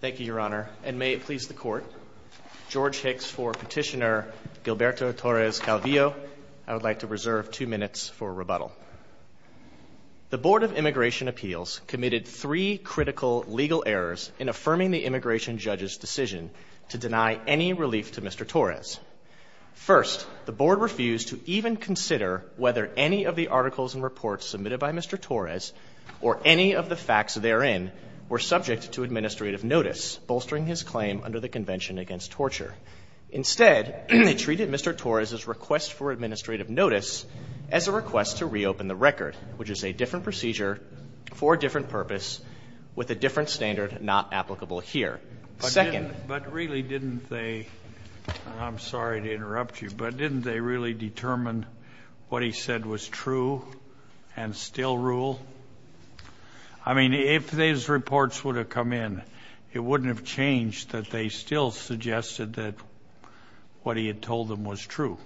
Thank you, Your Honor, and may it please the Court, George Hicks for Petitioner Gilberto Torres Calvillo. I would like to reserve two minutes for rebuttal. The Board of Immigration Appeals committed three critical legal errors in affirming the immigration judge's decision to deny any relief to Mr. Torres. First, the board refused to even consider whether any of the articles and reports submitted by Mr. Torres, or any of the facts therein, were subject to administrative notice, bolstering his claim under the Convention Against Torture. Instead, they treated Mr. Torres' request for administrative notice as a request to reopen the record, which is a different procedure for a different purpose with a different standard not applicable here. Second — Scalia, but really didn't they — and I'm sorry to interrupt you — but didn't they really determine what he said was true and still rule? I mean, if these reports would have come in, it wouldn't have changed that they still suggested that what he had told them was true.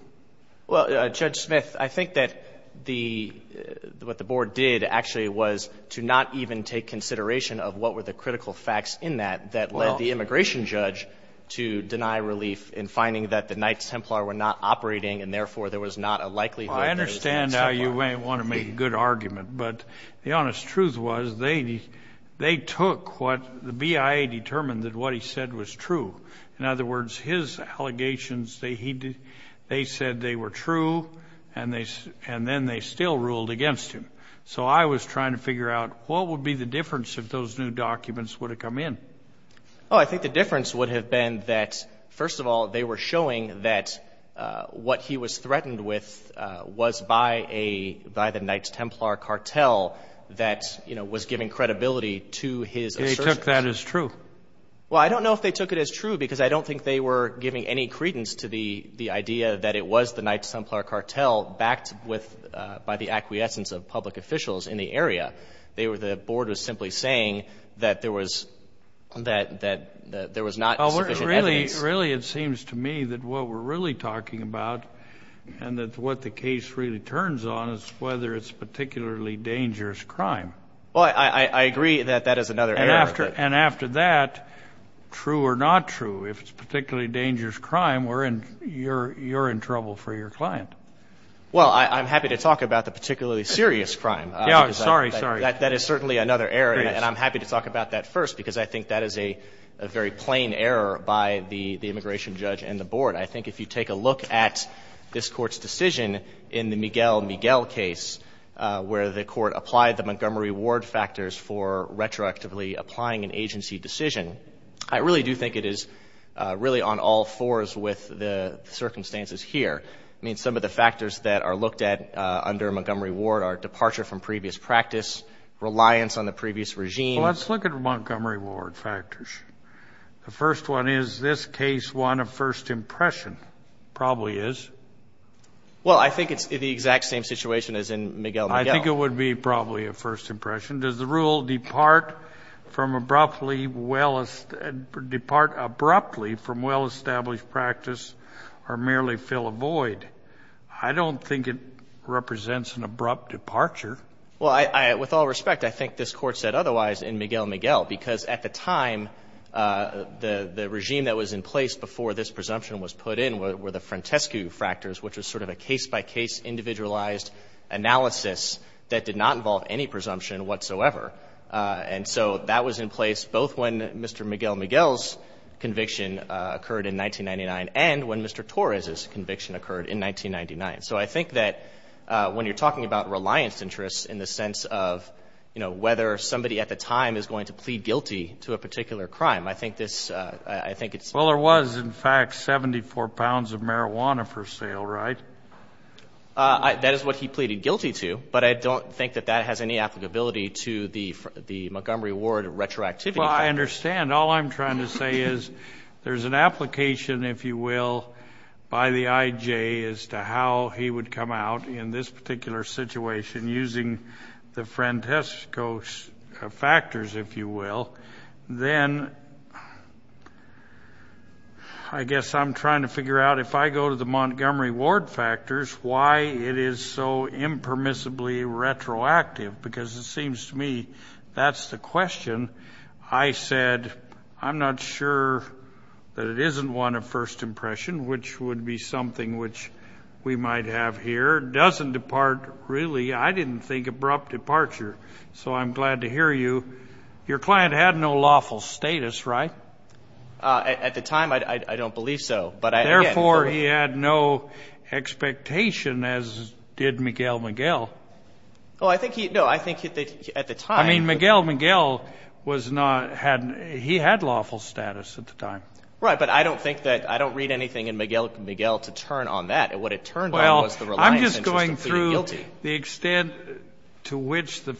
Well, Judge Smith, I think that the — what the board did, actually, was to not even take consideration of what were the critical facts in that that led the immigration judge to deny relief in finding that the Knights Templar were not operating, and therefore, there was not a likelihood that it was the Knights Templar. Well, I understand how you may want to make a good argument, but the honest truth was they took what the BIA determined that what he said was true. In other words, his allegations, they said they were true, and then they still ruled against him. So I was trying to figure out what would be the difference if those new documents would have come in. Oh, I think the difference would have been that, first of all, they were showing that what he was threatened with was by a — by the Knights Templar cartel that, you know, was giving credibility to his assertions. And they took that as true? Well, I don't know if they took it as true, because I don't think they were giving any credence to the idea that it was the Knights Templar cartel backed with — by the acquiescence of public officials in the area. They were — the board was simply saying that there was — that there was not sufficient evidence. Well, really, it seems to me that what we're really talking about and that what the case really turns on is whether it's particularly dangerous crime. Well, I agree that that is another area. And after that, true or not true, if it's particularly dangerous crime, we're in — you're in trouble for your client. Well, I'm happy to talk about the particularly serious crime. Yeah, I'm sorry. Sorry. That is certainly another area. And I'm happy to talk about that first, because I think that is a very plain error by the immigration judge and the board. I think if you take a look at this Court's decision in the Miguel-Miguel case, where the Court applied the Montgomery Ward factors for retroactively applying an agency decision, I really do think it is really on all fours with the circumstances here. I mean, some of the factors that are looked at under Montgomery Ward are departure from previous practice, reliance on the previous regime. Well, let's look at Montgomery Ward factors. The first one is, is this case one of first impression? It probably is. Well, I think it's the exact same situation as in Miguel-Miguel. I think it would be probably a first impression. Does the rule depart from abruptly well — depart abruptly from well-established practice or merely fill a void? I don't think it represents an abrupt departure. Well, I — with all respect, I think this Court said otherwise in Miguel-Miguel, because at the time, the regime that was in place before this presumption was put in were the Frantescu factors, which was sort of a case-by-case individualized analysis that did not involve any presumption whatsoever. And so that was in place both when Mr. Miguel-Miguel's conviction occurred in 1999 and when Mr. Torres' conviction occurred in 1999. So I think that when you're talking about reliance interests in the sense of, you know, whether somebody at the time is going to plead guilty to a particular crime, I think this — I think it's — Well, there was, in fact, 74 pounds of marijuana for sale, right? That is what he pleaded guilty to, but I don't think that that has any applicability to the Montgomery Ward retroactivity factors. Well, I understand. All I'm trying to say is there's an application, if you will, by the IJ as to how he would come out in this particular situation using the Frantescu factors, if you will. Then I guess I'm trying to figure out, if I go to the Montgomery Ward factors, why it is so impermissibly retroactive, because it seems to me that's the question. I said, I'm not sure that it isn't one of first impression, which would be something which we might have here. Doesn't depart really — I didn't think abrupt departure, so I'm glad to hear you. Your client had no lawful status, right? At the time, I don't believe so. Therefore, he had no expectation, as did Miguel Miguel. Oh, I think he — no, I think at the time — I mean, Miguel Miguel was not — he had lawful status at the time. Right, but I don't think that — I don't read anything in Miguel Miguel to turn on that. What it turned on was the reliance interest of pleading guilty. Well, I'm just going through the extent to which the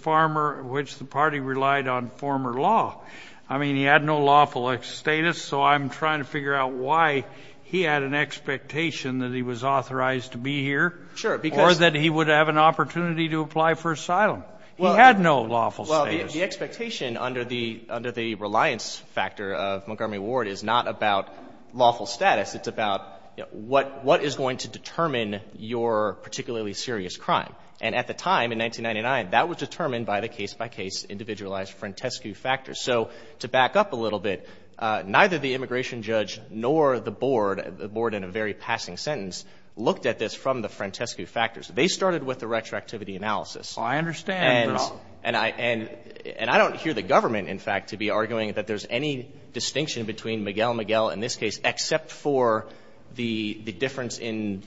party relied on former law. I mean, he had no lawful status, so I'm trying to figure out why he had an expectation that he was authorized to be here or that he would have an opportunity to apply for asylum. He had no lawful status. Well, the expectation under the — under the reliance factor of Montgomery Ward is not about lawful status. It's about, you know, what is going to determine your particularly serious crime. And at the time, in 1999, that was determined by the case-by-case individualized Frantescu factors. So to back up a little bit, neither the immigration judge nor the board — the board in a very passing sentence — looked at this from the Frantescu factors. They started with the retroactivity analysis. Well, I understand, but — And I — and I don't hear the government, in fact, to be arguing that there's any distinction between Miguel Miguel in this case except for the difference in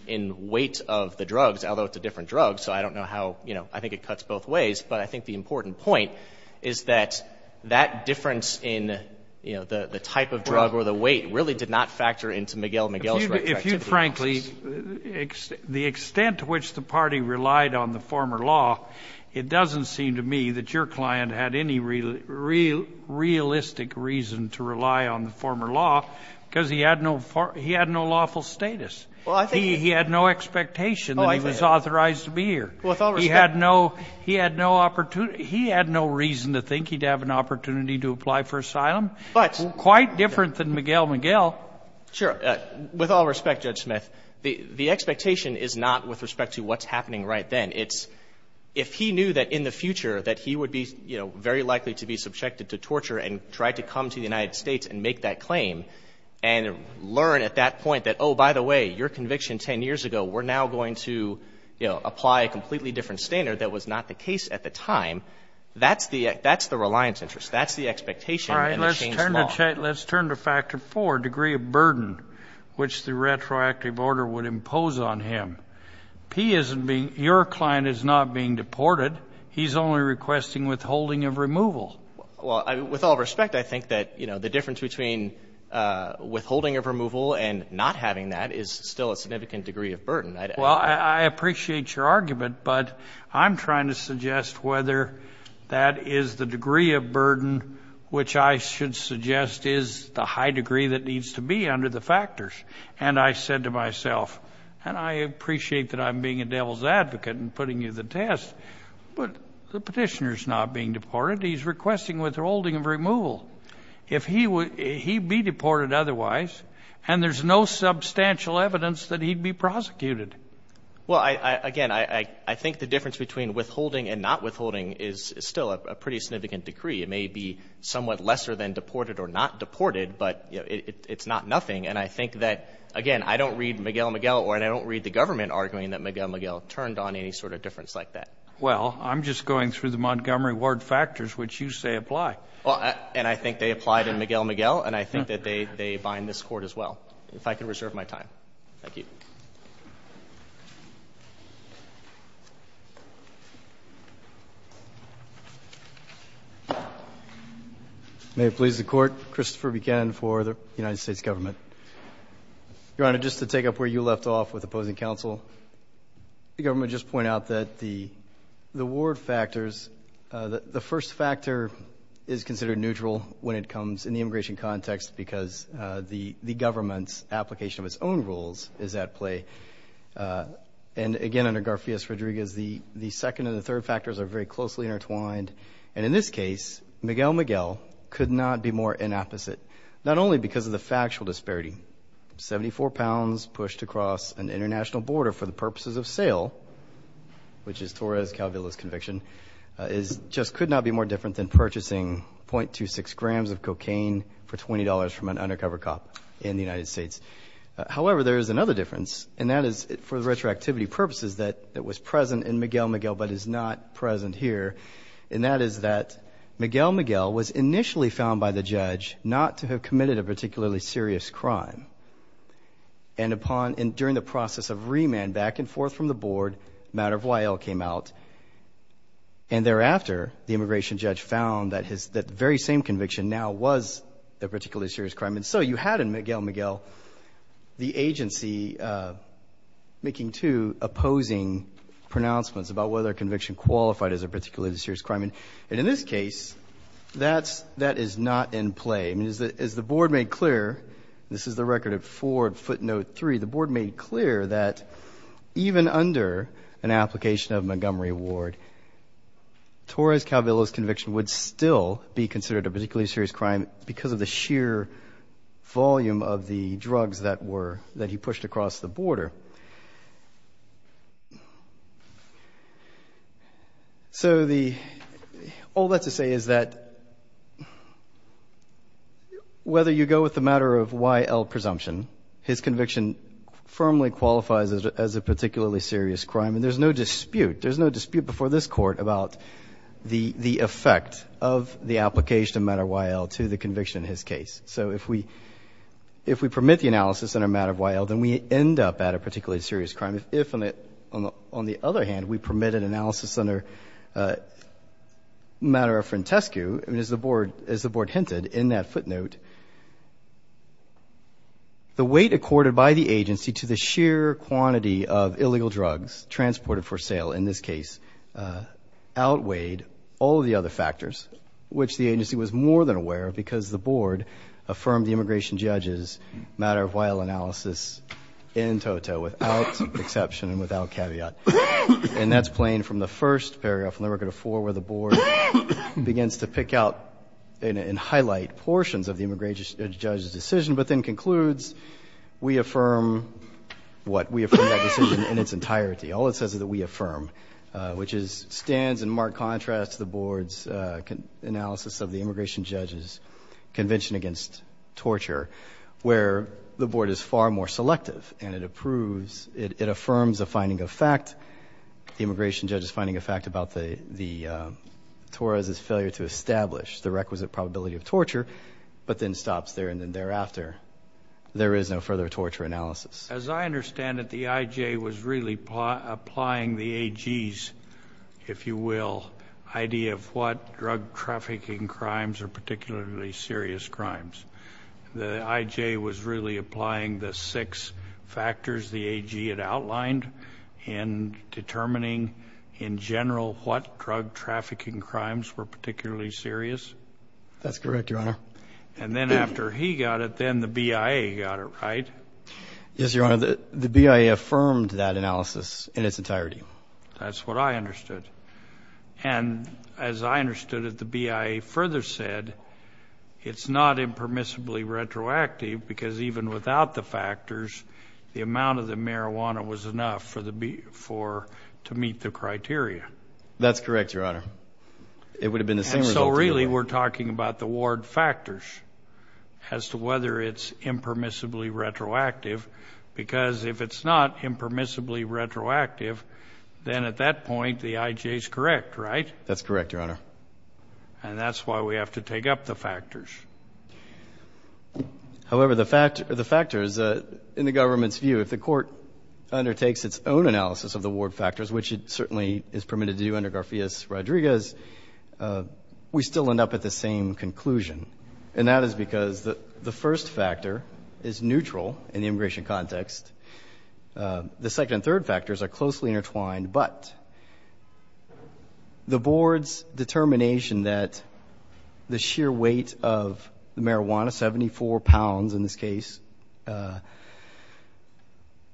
weight of the drugs, although it's a different drug. So I don't know how — you know, I think it cuts both ways. But I think the important point is that that difference in, you know, the type of drug or the weight really did not factor into Miguel Miguel's retroactivity analysis. If you — if you, frankly — the extent to which the party relied on the former law, it doesn't seem to me that your client had any realistic reason to rely on the former law because he had no — he had no lawful status. Well, I think — He had no expectation that he was authorized to be here. Well, with all respect — He had no — he had no — he had no reason to think he'd have an opportunity to apply for asylum. But — Quite different than Miguel Miguel. Sure. With all respect, Judge Smith, the expectation is not with respect to what's happening right then. It's if he knew that in the future that he would be, you know, very likely to be subjected to torture and try to come to the United States and make that claim and learn at that point that, oh, by the way, your conviction 10 years ago, we're now going to, you know, apply a completely different standard that was not the case at the time, that's the — that's the reliance interest. That's the expectation in the Shane's law. All right. Let's turn to — let's turn to factor four, degree of burden, which the retroactive order would impose on him. He isn't being — your client is not being deported. He's only requesting withholding of removal. Well, I — with all respect, I think that, you know, the difference between withholding of removal and not having that is still a significant degree of burden. I — Well, I appreciate your argument, but I'm trying to suggest whether that is the degree of burden which I should suggest is the high degree that needs to be under the factors. And I said to myself, and I appreciate that I'm being a devil's advocate and putting you to the test, but the petitioner's not being deported. He's requesting withholding of removal. If he — he'd be deported otherwise, and there's no substantial evidence that he'd be prosecuted. Well, I — again, I think the difference between withholding and not withholding is still a pretty significant degree. It may be somewhat lesser than deported or not deported, but, you know, it's not nothing. And I think that, again, I don't read Miguel Miguel or I don't read the government arguing that Miguel Miguel turned on any sort of difference like that. Well, I'm just going through the Montgomery Ward factors which you say apply. And I think they apply to Miguel Miguel, and I think that they bind this Court as well. If I could reserve my time. Thank you. May it please the Court. Christopher Buchanan for the United States Government. Your Honor, just to take up where you left off with opposing counsel, the government just point out that the Ward factors — the first factor is considered neutral when it comes in the immigration context because the government's application of its own rules is at play. And again, under Garfias-Rodriguez, the second and the third factors are very closely intertwined. And in this case, Miguel Miguel could not be more inapposite, not only because of the factual disparity — 74 pounds pushed across an international border for the purposes of which is Torres-Calvillo's conviction — just could not be more different than purchasing 0.26 grams of cocaine for $20 from an undercover cop in the United States. However, there is another difference, and that is for retroactivity purposes that was present in Miguel Miguel but is not present here, and that is that Miguel Miguel was initially found by the judge not to have committed a particularly serious crime. And during the process of remand back and forth from the board, a matter of why all came out. And thereafter, the immigration judge found that the very same conviction now was a particularly serious crime. And so you had in Miguel Miguel the agency making two opposing pronouncements about whether a conviction qualified as a particularly serious crime. And in this case, that is not in play. As the board made clear — this is the record at 4 footnote 3 — the board made clear that even under an application of Montgomery Ward, Torres-Calvillo's conviction would still be considered a particularly serious crime because of the sheer volume of the drugs that he pushed across the border. So the — all that to say is that whether you go with the matter of why all presumption, his conviction firmly qualifies as a particularly serious crime, and there's no dispute — there's no dispute before this Court about the effect of the application of a matter of why all to the conviction in his case. So if we — if we permit the analysis under a matter of why all, then we end up at a particularly serious crime. If, on the other hand, we permit an analysis under a matter of Frantescu, as the board hinted in that footnote, the weight accorded by the agency to the sheer quantity of illegal drugs transported for sale in this case outweighed all of the other factors, which the agency was more than aware of because the board affirmed the immigration judge's matter of why all analysis in toto, without exception and without caveat. And that's playing from the first paragraph, Limericker to 4, where the board begins to pick out and highlight portions of the immigration judge's decision, but then concludes, we affirm what? We affirm that decision in its entirety. All it says is that we affirm, which is — stands in marked contrast to the board's analysis of the immigration judge's convention against torture, where the board is far more selective and it approves — it affirms a finding of fact, the immigration judge's finding of fact about the — Torres' failure to establish the requisite probability of torture, but then stops there, and then thereafter, there is no further torture analysis. As I understand it, the I.J. was really applying the A.G.'s, if you will, idea of what drug trafficking crimes are particularly serious crimes. The I.J. was really applying the six factors the A.G. had outlined in determining, in general, what drug trafficking crimes were particularly serious? That's correct, Your Honor. And then after he got it, then the B.I.A. got it, right? Yes, Your Honor. The B.I.A. affirmed that analysis in its entirety. That's what I understood. And as I understood it, the B.I.A. further said, it's not impermissibly retroactive because even without the factors, the amount of the marijuana was enough for the — to meet the criteria. That's correct, Your Honor. It would have been the same result. So really, we're talking about the ward factors as to whether it's impermissibly retroactive because if it's not impermissibly retroactive, then at that point, the I.J. is correct, right? That's correct, Your Honor. And that's why we have to take up the factors. However, the factors, in the government's view, if the court undertakes its own analysis of the ward factors, which it certainly is permitted to do under Garfias-Rodriguez, we still end up at the same conclusion. And that is because the first factor is neutral in the immigration context. The second and third factors are closely intertwined, but the board's determination that the sheer weight of marijuana, 74 pounds in this case,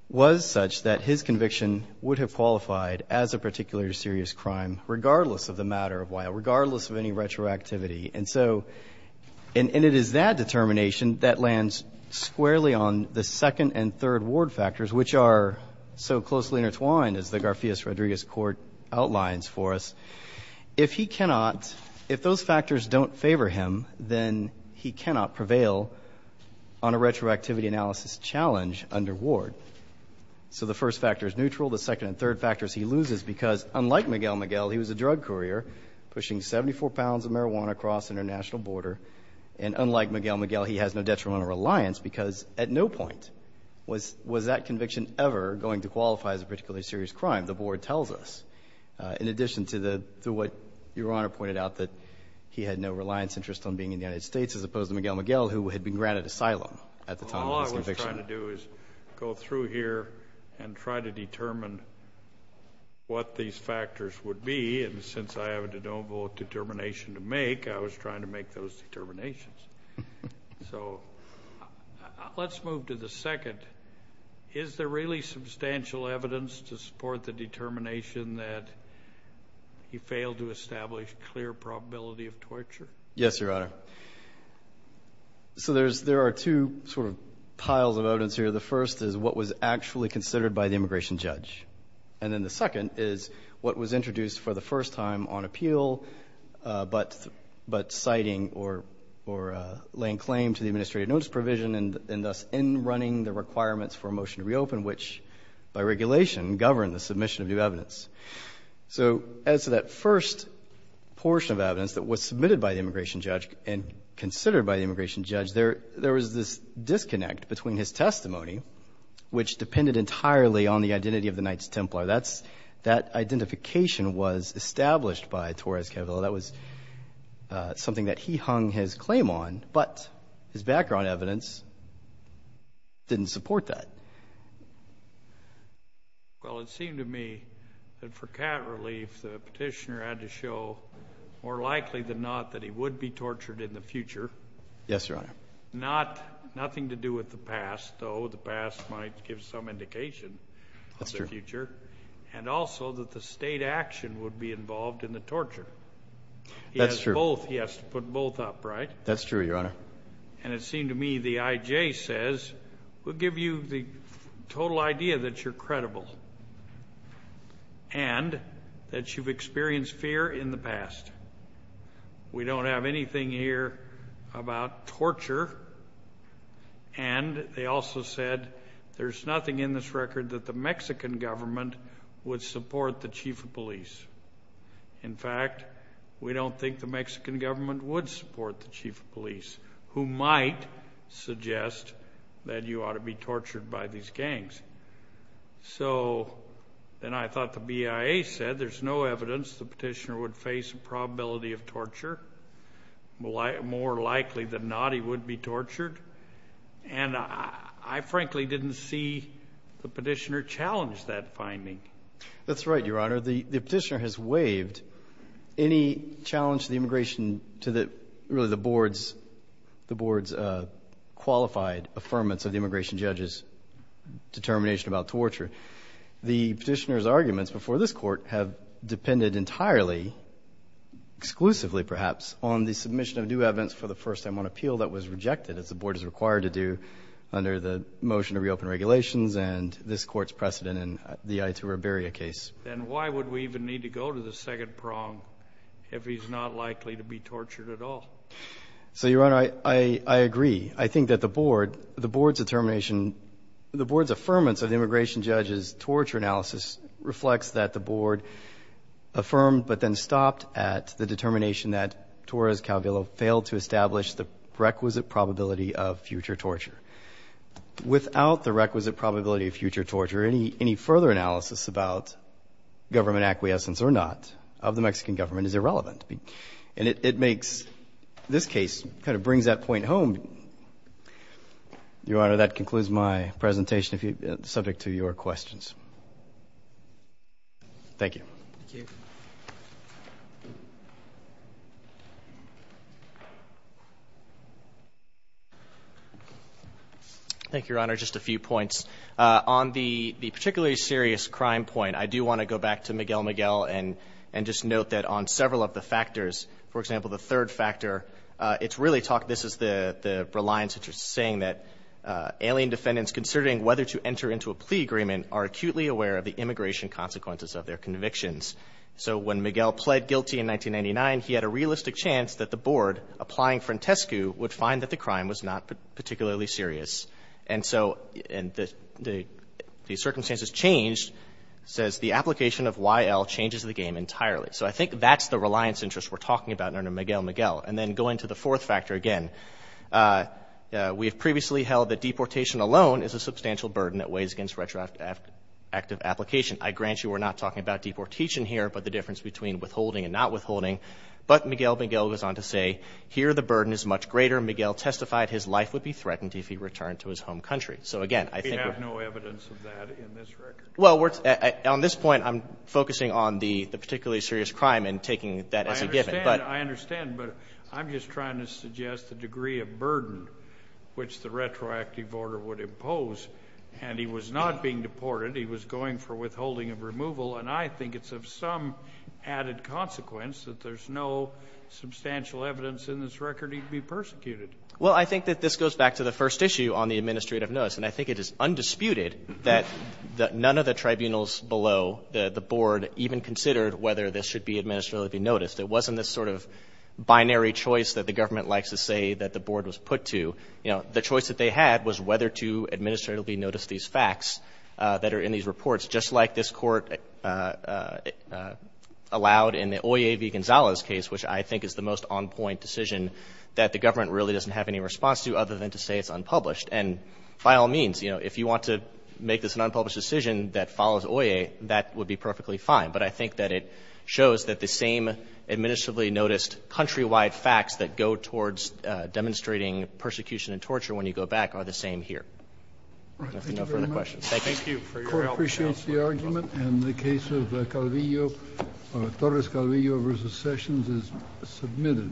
was such that his conviction would have qualified as a particularly serious crime, regardless of the matter of why, regardless of any retroactivity. And so — and it is that determination that lands squarely on the second and third ward factors, which are so closely intertwined, as the Garfias-Rodriguez court outlines for us. If he cannot — if those factors don't favor him, then he cannot prevail on a retroactivity analysis challenge under ward. So the first factor is neutral. The second and third factors he loses because, unlike Miguel Miguel, he was a drug courier pushing 74 pounds of marijuana across international border. And unlike Miguel Miguel, he has no detrimental reliance because at no point was that conviction ever going to qualify as a particularly serious crime, the board tells us. In addition to the — to what Your Honor pointed out, that he had no reliance interest on being in the United States, as opposed to Miguel Miguel, who had been granted asylum at the time of his conviction. Well, all I was trying to do is go through here and try to determine what these factors would be. And since I have a de novo determination to make, I was trying to make those determinations. So let's move to the second. Is there really substantial evidence to support the determination that he failed to establish clear probability of torture? Yes, Your Honor. So there's — there are two sort of piles of evidence here. The first is what was actually considered by the immigration judge. And then the second is what was introduced for the first time on appeal, but citing or laying claim to the administrative notice provision and thus in running the requirements for a motion to reopen, which by regulation govern the submission of new evidence. So as to that first portion of evidence that was submitted by the immigration judge and considered by the immigration judge, there was this disconnect between his testimony, which depended entirely on the identity of the Knights Templar. That identification was established by Torres Cabello. That was something that he hung his claim on, but his background evidence didn't support that. Well, it seemed to me that for cat relief, the petitioner had to show more likely than not that he would be tortured in the future. Yes, Your Honor. Not — nothing to do with the past, though the past might give some indication of the future. That's true. And also that the state action would be involved in the torture. That's true. He has both. He has to put both up. Right? That's true, Your Honor. And it seemed to me the IJ says, we'll give you the total idea that you're credible and that you've experienced fear in the past. We don't have anything here about torture. And they also said there's nothing in this record that the Mexican government would support the chief of police. In fact, we don't think the Mexican government would support the chief of police, who might suggest that you ought to be tortured by these gangs. So then I thought the BIA said there's no evidence the petitioner would face a probability of torture. More likely than not, he would be tortured. And I frankly didn't see the petitioner challenge that finding. That's right, Your Honor. The petitioner has waived any challenge to the immigration — to the, really, the board's qualified affirmance of the immigration judge's determination about torture. The petitioner's arguments before this Court have depended entirely, exclusively perhaps, on the submission of new evidence for the first time on appeal that was rejected, as the board is required to do under the motion to reopen regulations and this Court's precedent in the Ayatollah Berria case. Then why would we even need to go to the second prong if he's not likely to be tortured at all? So, Your Honor, I agree. I think that the board — the board's determination — the board's affirmance of the immigration judge's torture analysis reflects that the board affirmed but then stopped at the determination that Torres Calvillo failed to establish the requisite probability of future torture. Without the requisite probability of future torture, any further analysis about government acquiescence or not of the Mexican government is irrelevant. And it makes — this case kind of brings that point home. Your Honor, that concludes my presentation subject to your questions. Thank you. Thank you. Thank you, Your Honor. Just a few points. On the particularly serious crime point, I do want to go back to Miguel Miguel and just note that on several of the factors, for example, the third factor, it's really talked — this is the reliance that you're saying that alien defendants considering whether to enter into a plea agreement are acutely aware of the immigration consequences of their convictions. So when Miguel pled guilty in 1999, he had a realistic chance that the board, applying Frantescu, would find that the crime was not particularly serious. And so — and the circumstances changed, says the application of Y.L. changes the game entirely. So I think that's the reliance interest we're talking about under Miguel Miguel. And then going to the fourth factor again, we have previously held that deportation alone is a substantial burden that weighs against retroactive application. I grant you we're not talking about deportation here, but the difference between withholding and not withholding. But Miguel Miguel goes on to say, here the burden is much greater. Miguel testified his life would be threatened if he returned to his home country. So again, I think — We have no evidence of that in this record. Well, we're — on this point, I'm focusing on the particularly serious crime and taking that as a given. But — I understand. But I'm just trying to suggest the degree of burden which the retroactive order would impose. And he was not being deported. He was going for withholding of removal. And I think it's of some added consequence that there's no substantial evidence in this record he'd be persecuted. Well, I think that this goes back to the first issue on the administrative notice. And I think it is undisputed that none of the tribunals below the board even considered whether this should be administratively noticed. It wasn't this sort of binary choice that the government likes to say that the board was put to. You know, the choice that they had was whether to administratively notice these facts that are in these reports, just like this Court allowed in the Oye v. Gonzales case, which I think is the most on-point decision that the government really doesn't have any response to other than to say it's unpublished. And by all means, you know, if you want to make this an unpublished decision that follows Oye, that would be perfectly fine. But I think that it shows that the same administratively noticed countrywide facts that go towards demonstrating persecution and torture when you go back are the same here. I don't know if you have any further questions. Thank you. Thank you for your help, Counsel. The Court appreciates the argument. And the case of Calvillo, Torres-Calvillo v. Sessions, is submitted.